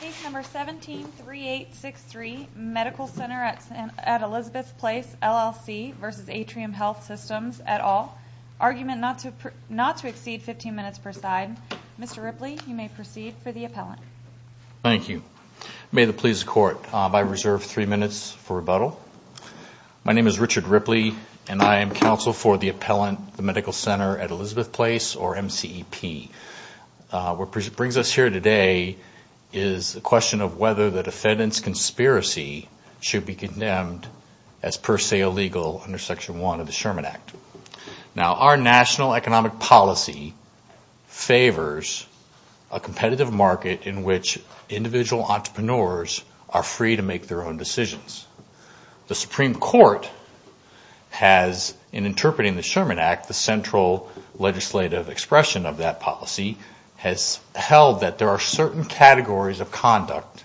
Page number 173863, Medical Center at Elizabeth Place, LLC v. Atrium Health Systems, et al. Argument not to exceed 15 minutes per side. Mr. Ripley, you may proceed for the appellant. Thank you. May it please the Court, I reserve three minutes for rebuttal. My name is Richard Ripley, and I am counsel for the appellant, the Medical Center at Elizabeth Place, or MCEP. What brings us here today is the question of whether the defendant's conspiracy should be condemned as per se illegal under Section 1 of the Sherman Act. Now, our national economic policy favors a competitive market in which individual entrepreneurs are free to make their own decisions. The Supreme Court has, in interpreting the Sherman Act, the central legislative expression of that policy, has held that there are certain categories of conduct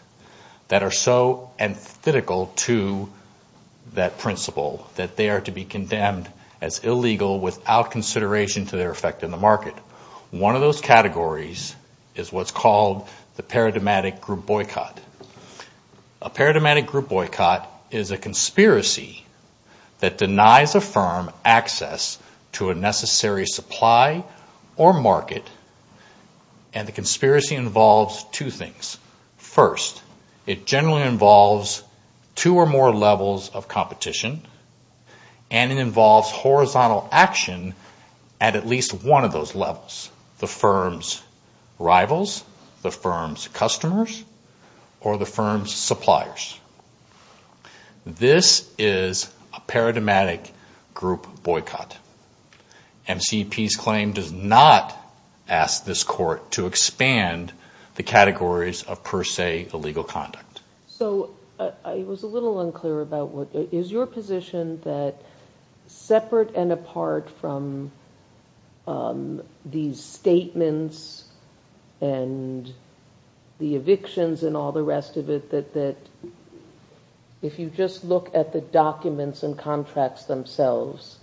that are so antithetical to that principle that they are to be condemned as illegal without consideration to their effect in the market. One of those categories is what's called the paradigmatic group boycott. A paradigmatic group boycott is a conspiracy that denies a firm access to a necessary supply or market, and the conspiracy involves two things. First, it generally involves two or more levels of competition, and it involves horizontal action at at least one of those levels. It involves the firm's rivals, the firm's customers, or the firm's suppliers. This is a paradigmatic group boycott. MCEP's claim does not ask this Court to expand the categories of per se illegal conduct. So I was a little unclear about what – is your position that, separate and apart from these statements and the evictions and all the rest of it, that if you just look at the documents and contracts themselves,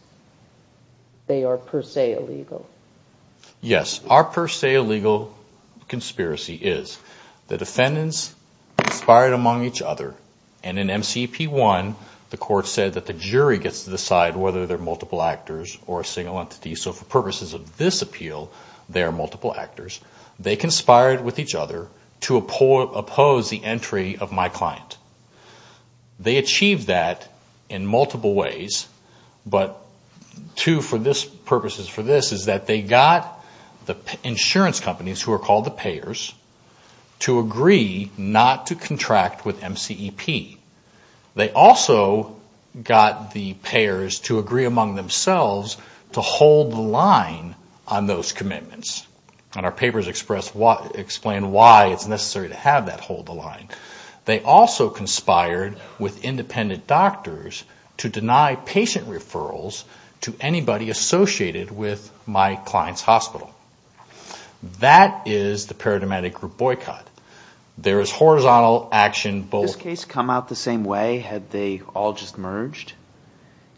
they are per se illegal? Yes. Our per se illegal conspiracy is the defendants conspired among each other. And in MCEP 1, the Court said that the jury gets to decide whether they're multiple actors or a single entity. So for purposes of this appeal, they are multiple actors. They conspired with each other to oppose the entry of my client. They achieved that in multiple ways, but two purposes for this is that they got the insurance companies, who are called the payers, to agree not to contract with MCEP. They also got the payers to agree among themselves to hold the line on those commitments. And our papers explain why it's necessary to have that hold the line. They also conspired with independent doctors to deny patient referrals to anybody associated with my client's hospital. That is the paradigmatic group boycott. There is horizontal action both… Would this case come out the same way had they all just merged? Yes.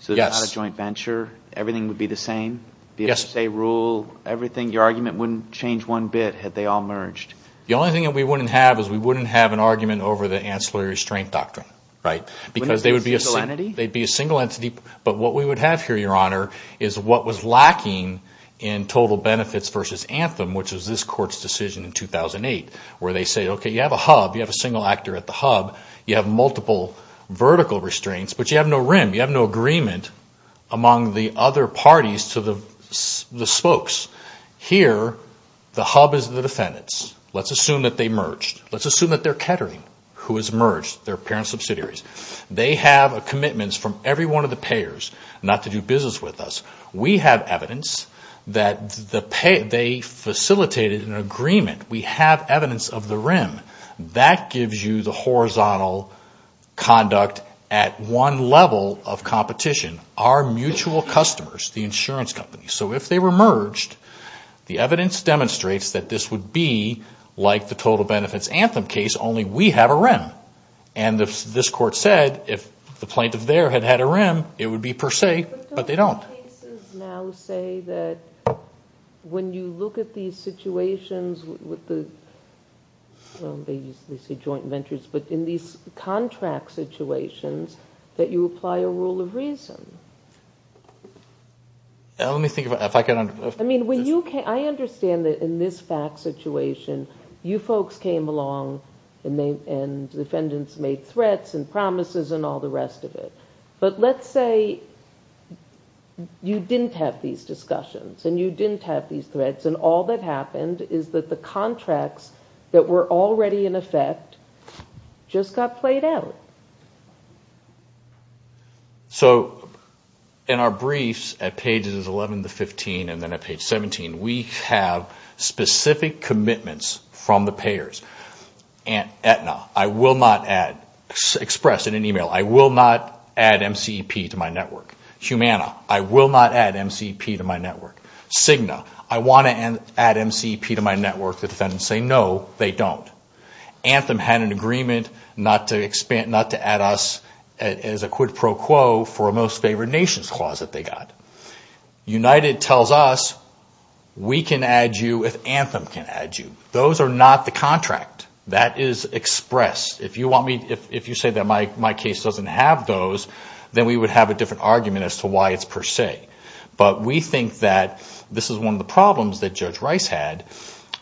So they're not a joint venture? Everything would be the same? Yes. Be able to say rule, everything? Your argument wouldn't change one bit had they all merged? The only thing that we wouldn't have is we wouldn't have an argument over the ancillary restraint doctrine, right? Wouldn't it be a single entity? But what we would have here, Your Honor, is what was lacking in total benefits versus Anthem, which was this court's decision in 2008, where they say, okay, you have a hub. You have a single actor at the hub. You have multiple vertical restraints, but you have no rim. You have no agreement among the other parties to the spokes. Here, the hub is the defendants. Let's assume that they merged. Let's assume that they're Kettering, who is merged, their parent subsidiaries. They have commitments from every one of the payers not to do business with us. We have evidence that they facilitated an agreement. We have evidence of the rim. That gives you the horizontal conduct at one level of competition. Our mutual customers, the insurance companies. So if they were merged, the evidence demonstrates that this would be like the total benefits Anthem case, only we have a rim. And this court said if the plaintiff there had had a rim, it would be per se, but they don't. But don't cases now say that when you look at these situations with the, well, they say joint ventures, but in these contract situations that you apply a rule of reason? Let me think if I can. I understand that in this fact situation, you folks came along and the defendants made threats and promises and all the rest of it. But let's say you didn't have these discussions and you didn't have these threats and all that happened is that the contracts that were already in effect just got played out. So in our briefs at pages 11 to 15 and then at page 17, we have specific commitments from the payers. Aetna, I will not add, expressed in an email, I will not add MCEP to my network. Humana, I will not add MCEP to my network. Cigna, I want to add MCEP to my network. The defendants say no, they don't. Anthem had an agreement not to add us as a quid pro quo for a most favored nations clause that they got. United tells us we can add you if Anthem can add you. Those are not the contract. That is expressed. If you say that my case doesn't have those, then we would have a different argument as to why it's per se. But we think that this is one of the problems that Judge Rice had.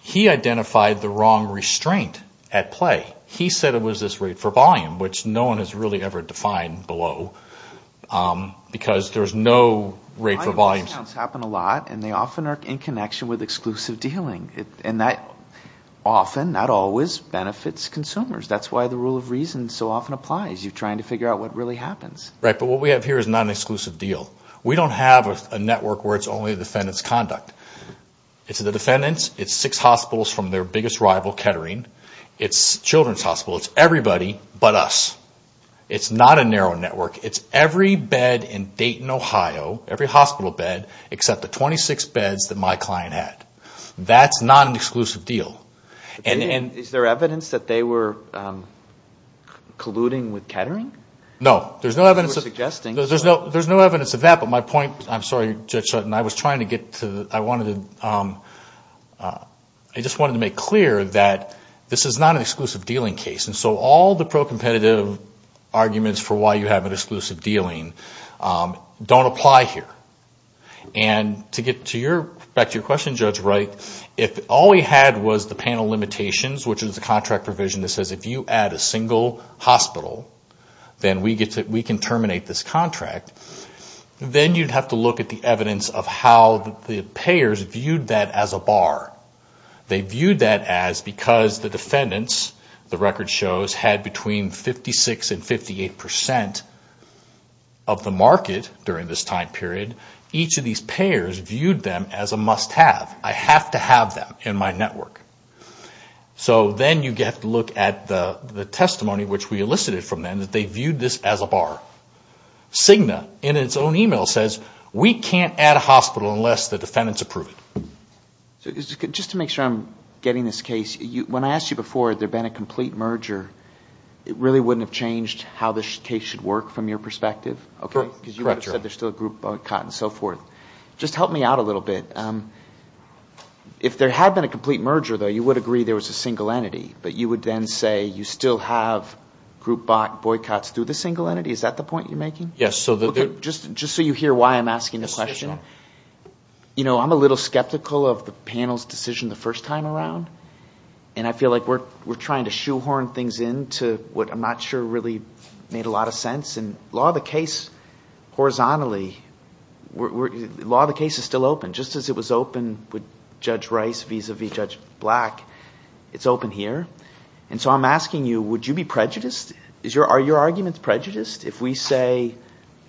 He identified the wrong restraint at play. He said it was this rate for volume, which no one has really ever defined below, because there's no rate for volume. Volume discounts happen a lot, and they often are in connection with exclusive dealing. And that often, not always, benefits consumers. That's why the rule of reason so often applies. You're trying to figure out what really happens. Right, but what we have here is not an exclusive deal. We don't have a network where it's only defendants' conduct. It's the defendants. It's six hospitals from their biggest rival, Kettering. It's children's hospitals. It's everybody but us. It's not a narrow network. It's every bed in Dayton, Ohio, every hospital bed, except the 26 beds that my client had. That's not an exclusive deal. And is there evidence that they were colluding with Kettering? No, there's no evidence of that. I'm sorry, Judge Sutton, I just wanted to make clear that this is not an exclusive dealing case. And so all the pro-competitive arguments for why you have an exclusive dealing don't apply here. And to get back to your question, Judge Wright, if all we had was the panel limitations, which is a contract provision that says if you add a single hospital, then we can terminate this contract. Then you'd have to look at the evidence of how the payers viewed that as a bar. They viewed that as because the defendants, the record shows, had between 56 and 58 percent of the market during this time period. Each of these payers viewed them as a must-have. I have to have them in my network. So then you have to look at the testimony, which we elicited from them, that they viewed this as a bar. Cigna, in its own email, says, we can't add a hospital unless the defendants approve it. Just to make sure I'm getting this case, when I asked you before, had there been a complete merger, it really wouldn't have changed how this case should work from your perspective? Correct. Because you would have said there's still a group boycott and so forth. Just help me out a little bit. If there had been a complete merger, though, you would agree there was a single entity, but you would then say you still have group boycotts through the single entity? Is that the point you're making? Yes. Just so you hear why I'm asking the question. I'm a little skeptical of the panel's decision the first time around, and I feel like we're trying to shoehorn things into what I'm not sure really made a lot of sense. Law of the case horizontally, law of the case is still open. Just as it was open with Judge Rice vis-à-vis Judge Black, it's open here. So I'm asking you, would you be prejudiced? Are your arguments prejudiced? If we say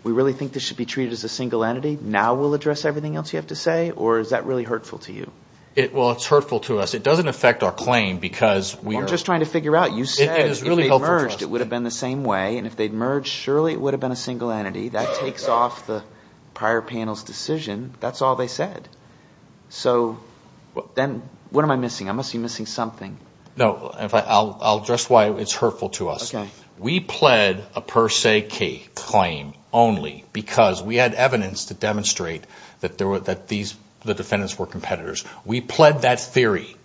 we really think this should be treated as a single entity, now we'll address everything else you have to say? Or is that really hurtful to you? Well, it's hurtful to us. It doesn't affect our claim because we are – I'm just trying to figure out. You said if they merged, it would have been the same way. And if they'd merged, surely it would have been a single entity. That takes off the prior panel's decision. That's all they said. So then what am I missing? I must be missing something. No, I'll address why it's hurtful to us. We pled a per se claim only because we had evidence to demonstrate that the defendants were competitors. We pled that theory.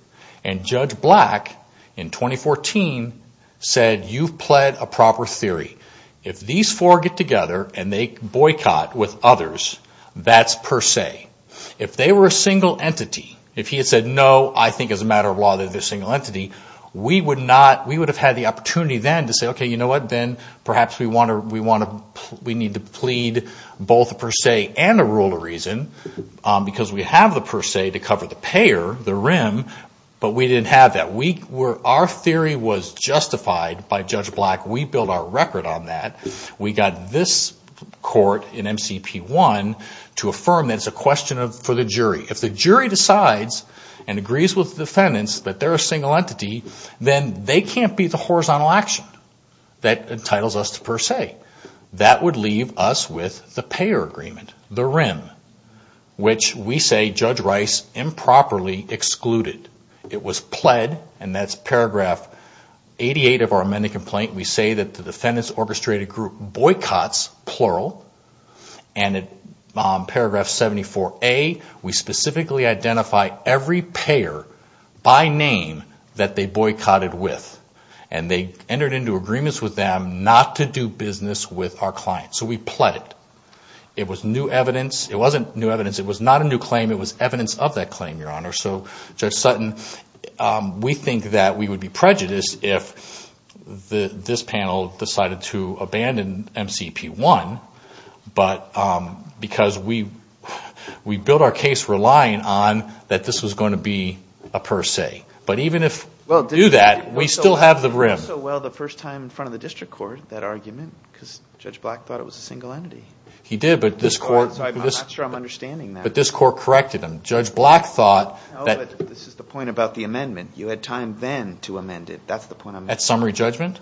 And Judge Black, in 2014, said you've pled a proper theory. If these four get together and they boycott with others, that's per se. If they were a single entity, if he had said no, I think as a matter of law they're a single entity, we would have had the opportunity then to say, okay, you know what, then perhaps we need to plead both a per se and a rule of reason because we have the per se to cover the payer, the rim, but we didn't have that. Our theory was justified by Judge Black. We built our record on that. We got this court in MCP1 to affirm that it's a question for the jury. If the jury decides and agrees with the defendants that they're a single entity, then they can't be the horizontal action that entitles us to per se. That would leave us with the payer agreement, the rim, which we say Judge Rice improperly excluded. It was pled, and that's paragraph 88 of our amended complaint. We say that the defendants orchestrated group boycotts, plural, and in paragraph 74A we specifically identify every payer by name that they boycotted with, and they entered into agreements with them not to do business with our client. So we pled it. It was new evidence. It wasn't new evidence. It was not a new claim. It was evidence of that claim, Your Honor. So Judge Sutton, we think that we would be prejudiced if this panel decided to abandon MCP1 because we built our case relying on that this was going to be a per se. But even if we do that, we still have the rim. It worked so well the first time in front of the district court, that argument, because Judge Black thought it was a single entity. He did, but this court corrected him. Judge Black thought that… No, but this is the point about the amendment. You had time then to amend it. That's the point I'm making. At summary judgment?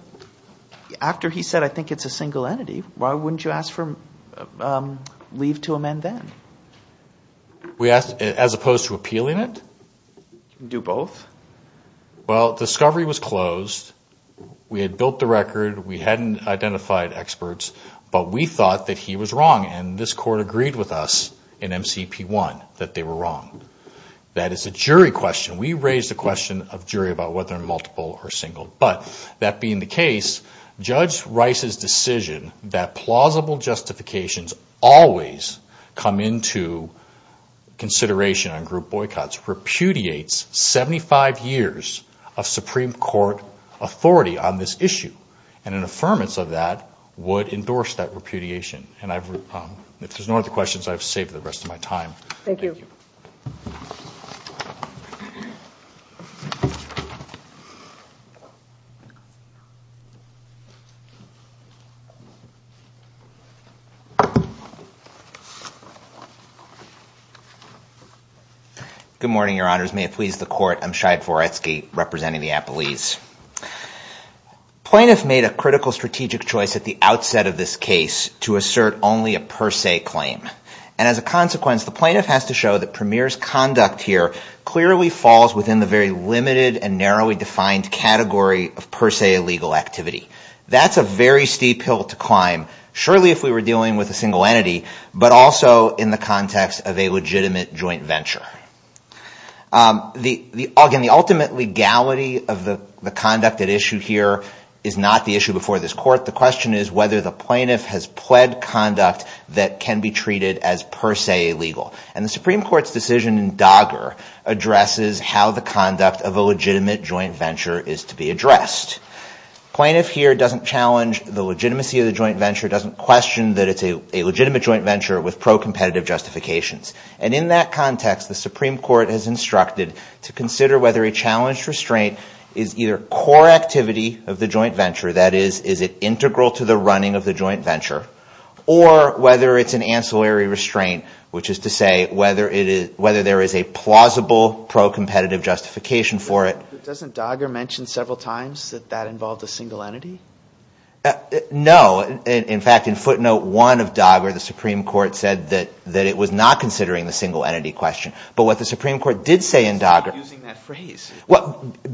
After he said, I think it's a single entity. Why wouldn't you ask for leave to amend then? As opposed to appealing it? Do both. Well, discovery was closed. We had built the record. We hadn't identified experts, but we thought that he was wrong, and this court agreed with us in MCP1 that they were wrong. That is a jury question. Judge Rice's decision that plausible justifications always come into consideration on group boycotts repudiates 75 years of Supreme Court authority on this issue, and an affirmance of that would endorse that repudiation. If there's no other questions, I've saved the rest of my time. Thank you. Good morning, Your Honors. May it please the Court. I'm Shai Foretsky, representing the Appellees. Plaintiff made a critical strategic choice at the outset of this case to assert only a per se claim, and as a consequence, the plaintiff has to show that Premier's conduct here clearly falls within the very limited and narrowly defined category of per se illegal activity. That's a very steep hill to climb, surely if we were dealing with a single entity, but also in the context of a legitimate joint venture. Again, the ultimate legality of the conduct at issue here is not the issue before this Court. The question is whether the plaintiff has pled conduct that can be treated as per se illegal, and the Supreme Court's decision in Dogger addresses how the conduct of a legitimate joint venture is to be addressed. The plaintiff here doesn't challenge the legitimacy of the joint venture, doesn't question that it's a legitimate joint venture with pro-competitive justifications. And in that context, the Supreme Court has instructed to consider whether a challenged restraint is either core activity of the joint venture, that is, is it integral to the running of the joint venture, or whether it's an ancillary restraint, which is to say whether there is a plausible pro-competitive justification for it. But doesn't Dogger mention several times that that involved a single entity? No. In fact, in footnote one of Dogger, the Supreme Court said that it was not considering the single entity question. But what the Supreme Court did say in Dogger... Why are you using that phrase?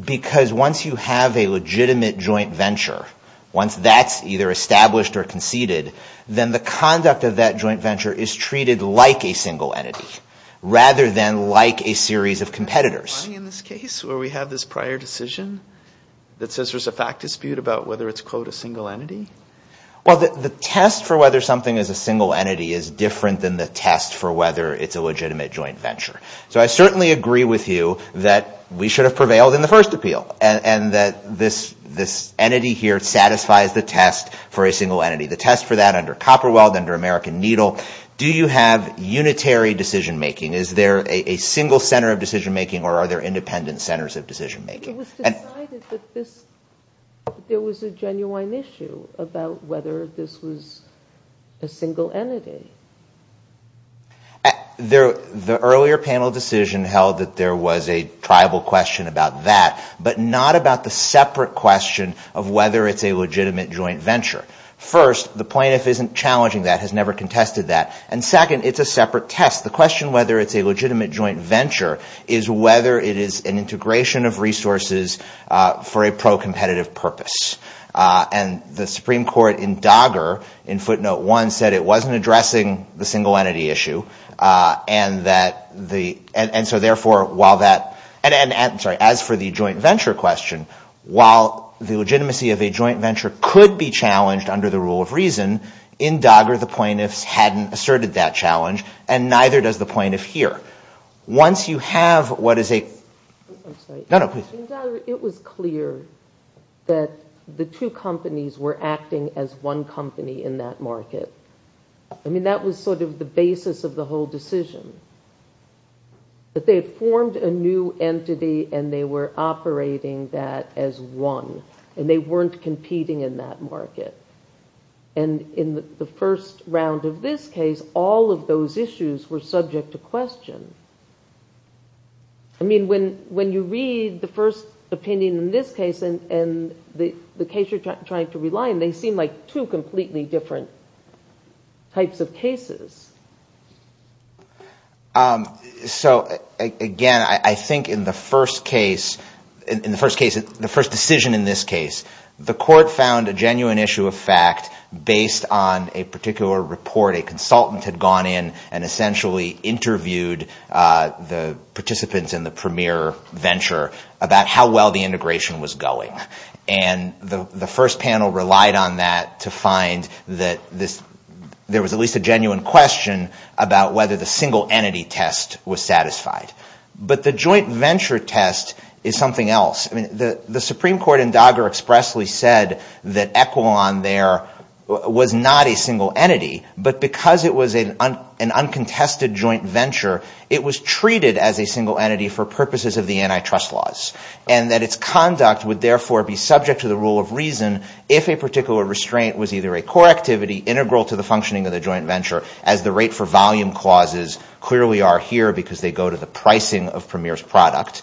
Because once you have a legitimate joint venture, once that's either established or conceded, is treated like a single entity, rather than like a series of competitors. Is there some underlying in this case where we have this prior decision that says there's a fact dispute about whether it's, quote, a single entity? Well, the test for whether something is a single entity is different than the test for whether it's a legitimate joint venture. So I certainly agree with you that we should have prevailed in the first appeal and that this entity here satisfies the test for a single entity. The test for that under Copperweld, under American Needle, do you have unitary decision-making? Is there a single center of decision-making or are there independent centers of decision-making? It was decided that there was a genuine issue about whether this was a single entity. The earlier panel decision held that there was a tribal question about that, but not about the separate question of whether it's a legitimate joint venture. First, the plaintiff isn't challenging that, has never contested that. And second, it's a separate test. The question whether it's a legitimate joint venture is whether it is an integration of resources for a pro-competitive purpose. And the Supreme Court in Dogger, in footnote one, said it wasn't addressing the single entity issue. And as for the joint venture question, while the legitimacy of a joint venture could be challenged under the rule of reason, in Dogger the plaintiffs hadn't asserted that challenge and neither does the plaintiff here. Once you have what is a... I'm sorry. No, no, please. In Dogger, it was clear that the two companies were acting as one company in that market. I mean, that was sort of the basis of the whole decision. That they had formed a new entity and they were operating that as one and they weren't competing in that market. And in the first round of this case, all of those issues were subject to question. I mean, when you read the first opinion in this case and the case you're trying to rely on, they seem like two completely different types of cases. So, again, I think in the first case, in the first case, the first decision in this case, the court found a genuine issue of fact based on a particular report a consultant had gone in and essentially interviewed the participants in the premier venture about how well the integration was going. And the first panel relied on that to find that there was at least a genuine question about whether the single entity test was satisfied. But the joint venture test is something else. I mean, the Supreme Court in Dogger expressly said that Equion there was not a single entity, but because it was an uncontested joint venture, it was treated as a single entity for purposes of the antitrust laws. And that its conduct would therefore be subject to the rule of reason if a particular restraint was either a core activity integral to the functioning of the joint venture as the rate for volume clauses clearly are here because they go to the pricing of premier's product.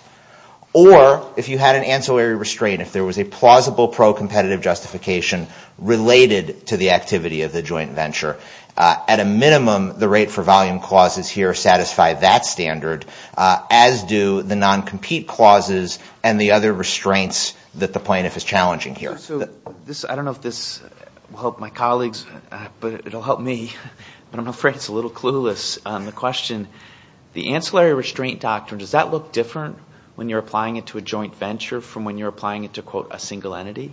Or if you had an ancillary restraint, if there was a plausible pro-competitive justification related to the activity of the joint venture. At a minimum, the rate for volume clauses here satisfy that standard, as do the non-compete clauses and the other restraints that the plaintiff is challenging here. So I don't know if this will help my colleagues, but it will help me. But I'm afraid it's a little clueless. The question, the ancillary restraint doctrine, does that look different when you're applying it to a joint venture from when you're applying it to, quote, a single entity?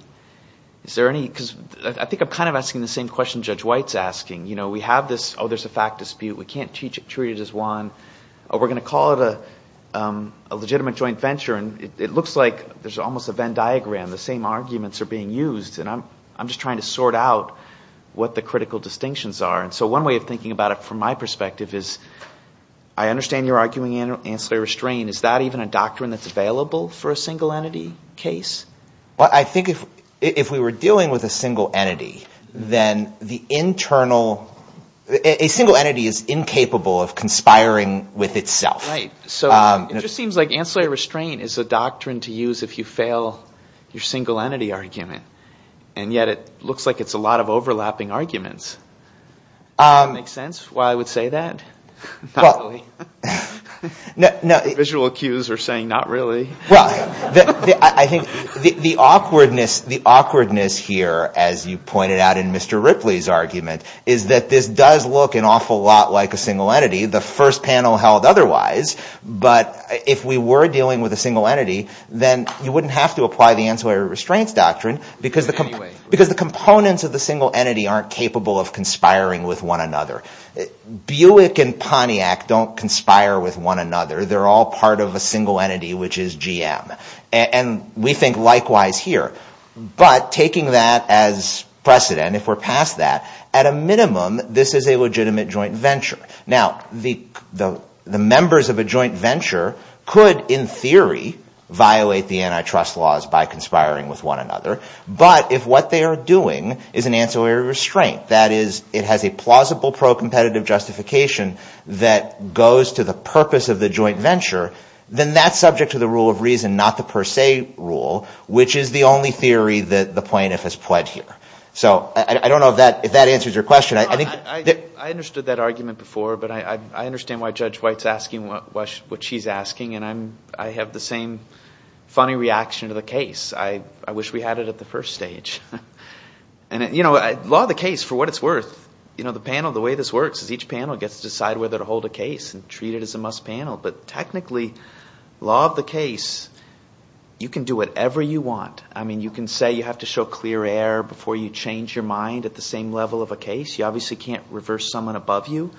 Is there any... Because I think I'm kind of asking the same question Judge White's asking. You know, we have this, oh, there's a fact dispute, we can't treat it as one. We're going to call it a legitimate joint venture and it looks like there's almost a Venn diagram. The same arguments are being used. And I'm just trying to sort out what the critical distinctions are. And so one way of thinking about it from my perspective is, I understand you're arguing ancillary restraint. I mean, is that even a doctrine that's available for a single entity case? Well, I think if we were dealing with a single entity, then the internal... A single entity is incapable of conspiring with itself. Right. So it just seems like ancillary restraint is a doctrine to use if you fail your single entity argument. And yet it looks like it's a lot of overlapping arguments. Does that make sense why I would say that? Not really. The visual cues are saying not really. Well, I think the awkwardness here, as you pointed out in Mr. Ripley's argument, is that this does look an awful lot like a single entity. The first panel held otherwise. But if we were dealing with a single entity, then you wouldn't have to apply the ancillary restraints doctrine because the components of the single entity aren't capable of conspiring with one another. Buick and Pontiac don't conspire with one another. They're all part of a single entity, which is GM. And we think likewise here. But taking that as precedent, if we're past that, at a minimum, this is a legitimate joint venture. Now, the members of a joint venture could, in theory, violate the antitrust laws by conspiring with one another. But if what they are doing is an ancillary restraint, that is, it has a plausible pro-competitive justification that goes to the purpose of the joint venture, then that's subject to the rule of reason, not the per se rule, which is the only theory that the plaintiff has pled here. So I don't know if that answers your question. I understood that argument before, but I understand why Judge White's asking what she's asking, and I have the same funny reaction to the case. I wish we had it at the first stage. Law of the case, for what it's worth, the way this works is each panel gets to decide whether to hold a case and treat it as a must panel. But technically, law of the case, you can do whatever you want. You can say you have to show clear air before you change your mind at the same level of a case. You obviously can't reverse someone above you.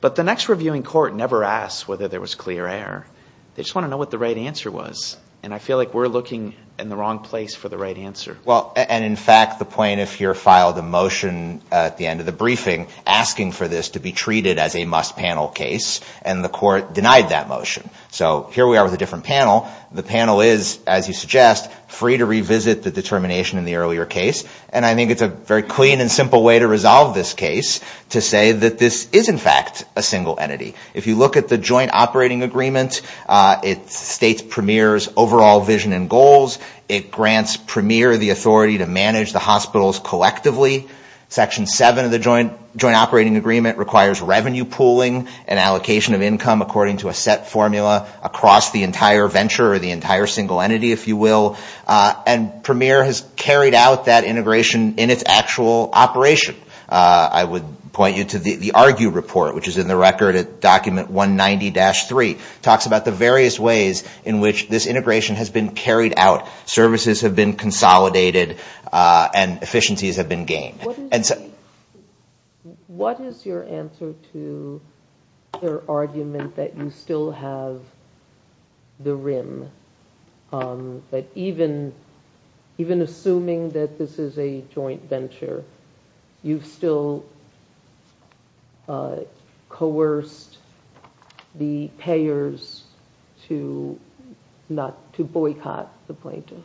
But the next reviewing court never asks whether there was clear air. They just want to know what the right answer was. And I feel like we're looking in the wrong place for the right answer. And, in fact, the plaintiff here filed a motion at the end of the briefing asking for this to be treated as a must panel case, and the court denied that motion. So here we are with a different panel. The panel is, as you suggest, free to revisit the determination in the earlier case, and I think it's a very clean and simple way to resolve this case to say that this is, in fact, a single entity. If you look at the joint operating agreement, it states Premier's overall vision and goals. It grants Premier the authority to manage the hospitals collectively. Section 7 of the joint operating agreement requires revenue pooling and allocation of income according to a set formula across the entire venture or the entire single entity, if you will. And Premier has carried out that integration in its actual operation. I would point you to the argue report, which is in the record at document 190-3. It talks about the various ways in which this integration has been carried out, services have been consolidated, and efficiencies have been gained. What is your answer to their argument that you still have the rim, that even assuming that this is a joint venture, you've still coerced the payers to boycott the plaintiff?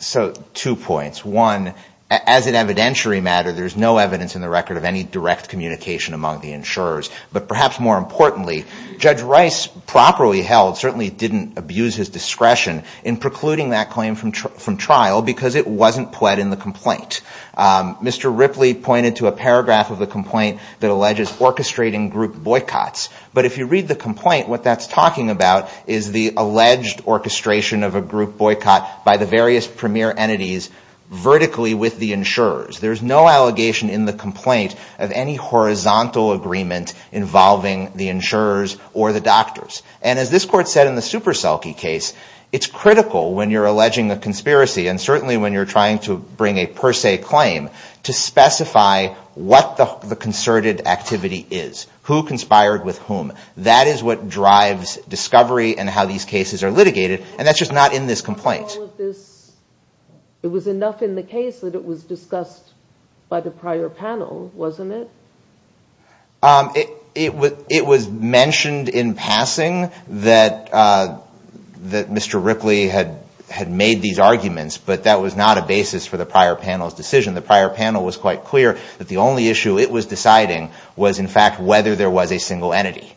So two points. One, as an evidentiary matter, there's no evidence in the record of any direct communication among the insurers. But perhaps more importantly, Judge Rice properly held, certainly didn't abuse his discretion in precluding that claim from trial because it wasn't pled in the complaint. Mr. Ripley pointed to a paragraph of the complaint that alleges orchestrating group boycotts. But if you read the complaint, what that's talking about is the alleged orchestration of a group boycott by the various Premier entities vertically with the insurers. There's no allegation in the complaint of any horizontal agreement involving the insurers or the doctors. And as this Court said in the Superselke case, it's critical when you're alleging a conspiracy and certainly when you're trying to bring a per se claim to specify what the concerted activity is. Who conspired with whom. That is what drives discovery and how these cases are litigated. And that's just not in this complaint. It was enough in the case that it was discussed by the prior panel, wasn't it? It was mentioned in passing that Mr. Ripley had made these arguments, but that was not a basis for the prior panel's decision. The prior panel was quite clear that the only issue it was deciding was in fact whether there was a single entity.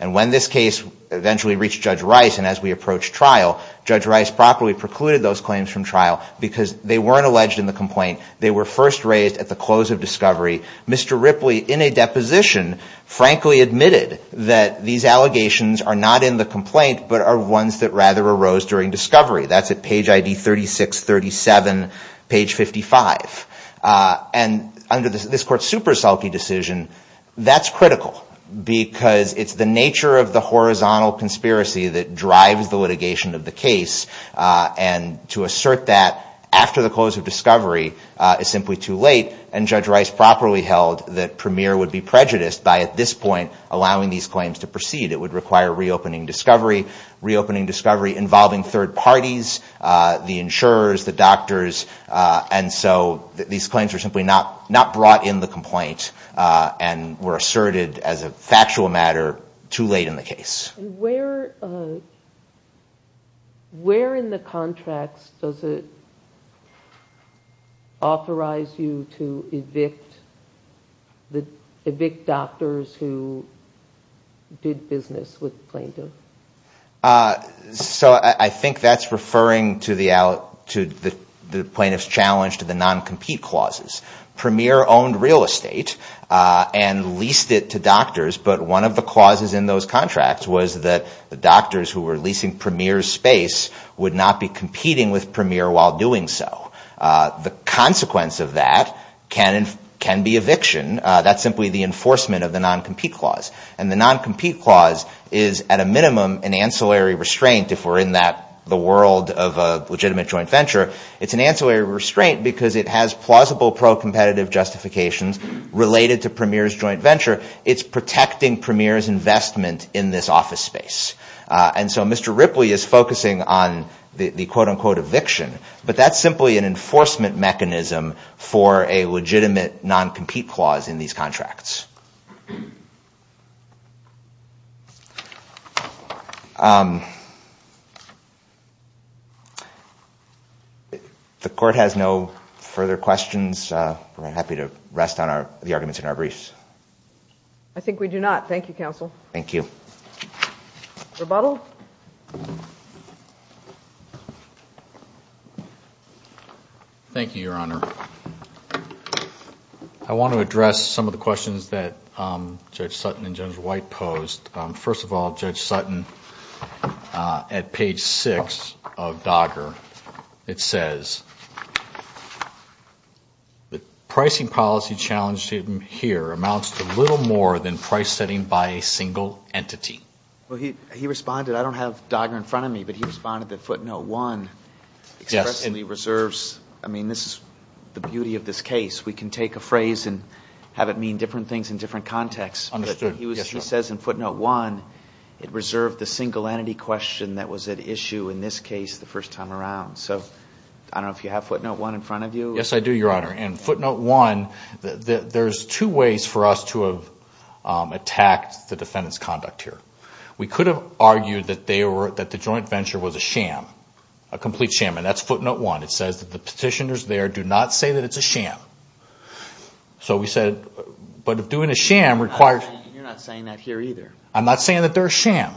And when this case eventually reached Judge Rice and as we approached trial, Judge Rice properly precluded those claims from trial because they weren't alleged in the complaint. They were first raised at the close of discovery. Mr. Ripley, in a deposition, frankly admitted that these allegations are not in the complaint, but are ones that rather arose during discovery. That's at page ID 36, 37, page 55. And under this Court's Superselke decision, that's critical because it's the nature of the horizontal conspiracy that drives the litigation of the case. And to assert that after the close of discovery is simply too late. And Judge Rice properly held that Premier would be prejudiced by at this point allowing these claims to proceed. It would require reopening discovery, involving third parties, the insurers, the doctors. And so these claims were simply not brought in the complaint and were asserted as a factual matter too late in the case. Where in the contracts does it authorize you to evict doctors who did business with the plaintiff? So I think that's referring to the plaintiff's challenge to the non-compete clauses. Premier owned real estate and leased it to doctors, but one of the clauses in those contracts was that the doctors who were leasing Premier's space would not be competing with Premier while doing so. The consequence of that can be eviction. That's simply the enforcement of the non-compete clause. And the non-compete clause is at a minimum an ancillary restraint if we're in the world of a legitimate joint venture. It's an ancillary restraint because it has plausible pro-competitive justifications related to Premier's joint venture. It's protecting Premier's investment in this office space. And so Mr. Ripley is focusing on the quote-unquote eviction, but that's simply an enforcement mechanism for a legitimate non-compete clause in these contracts. The Court has no further questions. We're happy to rest on the arguments in our briefs. I think we do not. Thank you, Counsel. Thank you. Rebuttal? Thank you, Your Honor. I want to address some of the questions that Judge Sutton and Judge White posed. First of all, Judge Sutton, at page 6 of DOGGR, it says, the pricing policy challenge here amounts to little more than price setting by a single entity. He responded, I don't have DOGGR in front of me, but he responded that footnote 1 expressly reserves, I mean, this is the beauty of this case. We can take a phrase and have it mean different things in different contexts. But he says in footnote 1, it reserved the single entity question that was at issue in this case the first time around. So I don't know if you have footnote 1 in front of you. Yes, I do, Your Honor. And footnote 1, there's two ways for us to have attacked the defendant's conduct here. We could have argued that the joint venture was a sham, a complete sham, and that's footnote 1. It says that the petitioners there do not say that it's a sham. So we said, but doing a sham requires... You're not saying that here either. I'm not saying that they're a sham.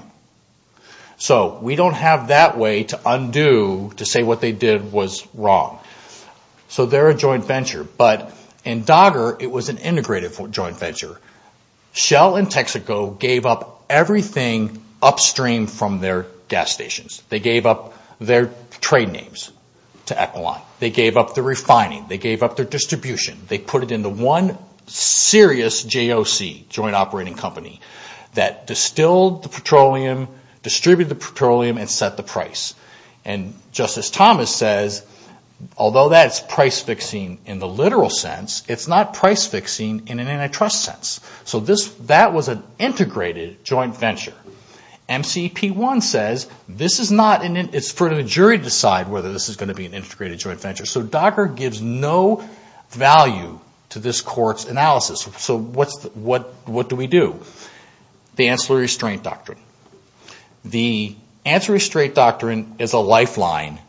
So we don't have that way to undo to say what they did was wrong. So they're a joint venture. But in DOGGR, it was an integrative joint venture. Shell and Texaco gave up everything upstream from their gas stations. They gave up their trade names to Equiline. They gave up the refining. They gave up their distribution. They put it into one serious JOC, joint operating company, that distilled the petroleum, distributed the petroleum, and set the price. And Justice Thomas says, although that's price-fixing in the literal sense, it's not price-fixing in an antitrust sense. So that was an integrated joint venture. MCEP-1 says, it's for the jury to decide whether this is going to be an integrated joint venture. So DOGGR gives no value to this court's analysis. So what do we do? The Ancillary Restraint Doctrine. The Ancillary Restraint Doctrine is a lifeline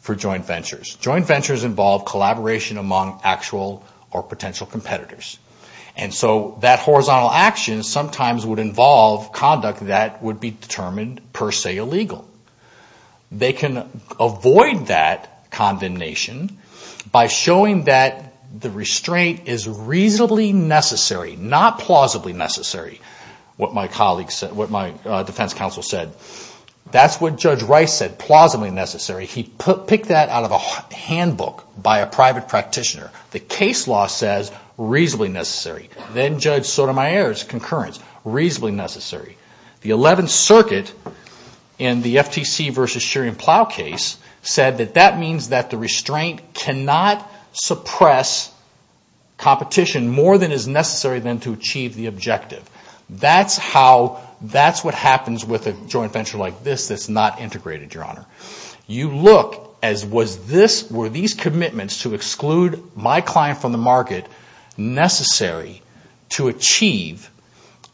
for joint ventures. Joint ventures involve collaboration among actual or potential competitors. And so that horizontal action sometimes would involve conduct that would be determined per se illegal. They can avoid that condemnation by showing that the restraint is reasonably necessary, not plausibly necessary, what my defense counsel said. That's what Judge Rice said, plausibly necessary. He picked that out of a handbook by a private practitioner. The case law says reasonably necessary. Then Judge Sotomayor's concurrence, reasonably necessary. The Eleventh Circuit in the FTC v. Shearing Plough case said that that means that the restraint cannot suppress competition more than is necessary than to achieve the objective. That's what happens with a joint venture like this that's not integrated, Your Honor. You look, as were these commitments to exclude my client from the market necessary to achieve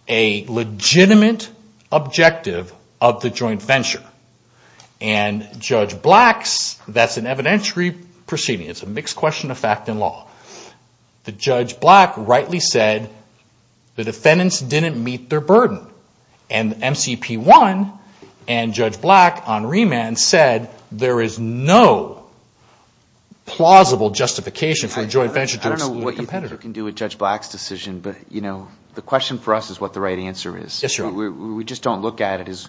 a legitimate objective of the joint venture. And Judge Black's, that's an evidentiary proceeding. It's a mixed question of fact and law. Judge Black rightly said the defendants didn't meet their burden. And MCP1 and Judge Black on remand said there is no plausible justification for a joint venture to exclude a competitor. I don't know what you can do with Judge Black's decision, but the question for us is what the right answer is. We just don't look at it as,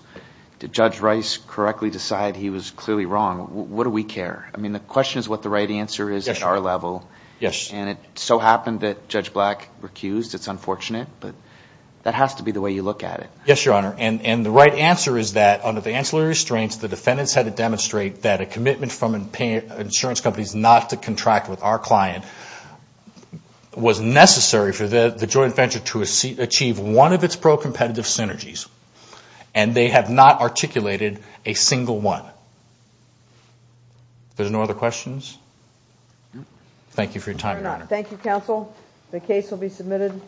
did Judge Rice correctly decide he was clearly wrong? What do we care? I mean, the question is what the right answer is at our level. And it so happened that Judge Black recused. It's unfortunate, but that has to be the way you look at it. Yes, Your Honor, and the right answer is that under the ancillary restraints the defendants had to demonstrate that a commitment from insurance companies not to contract with our client was necessary for the joint venture to achieve one of its pro-competitive synergies. And they have not articulated a single one. There's no other questions? Thank you for your time, Your Honor. Thank you, counsel. The case will be submitted.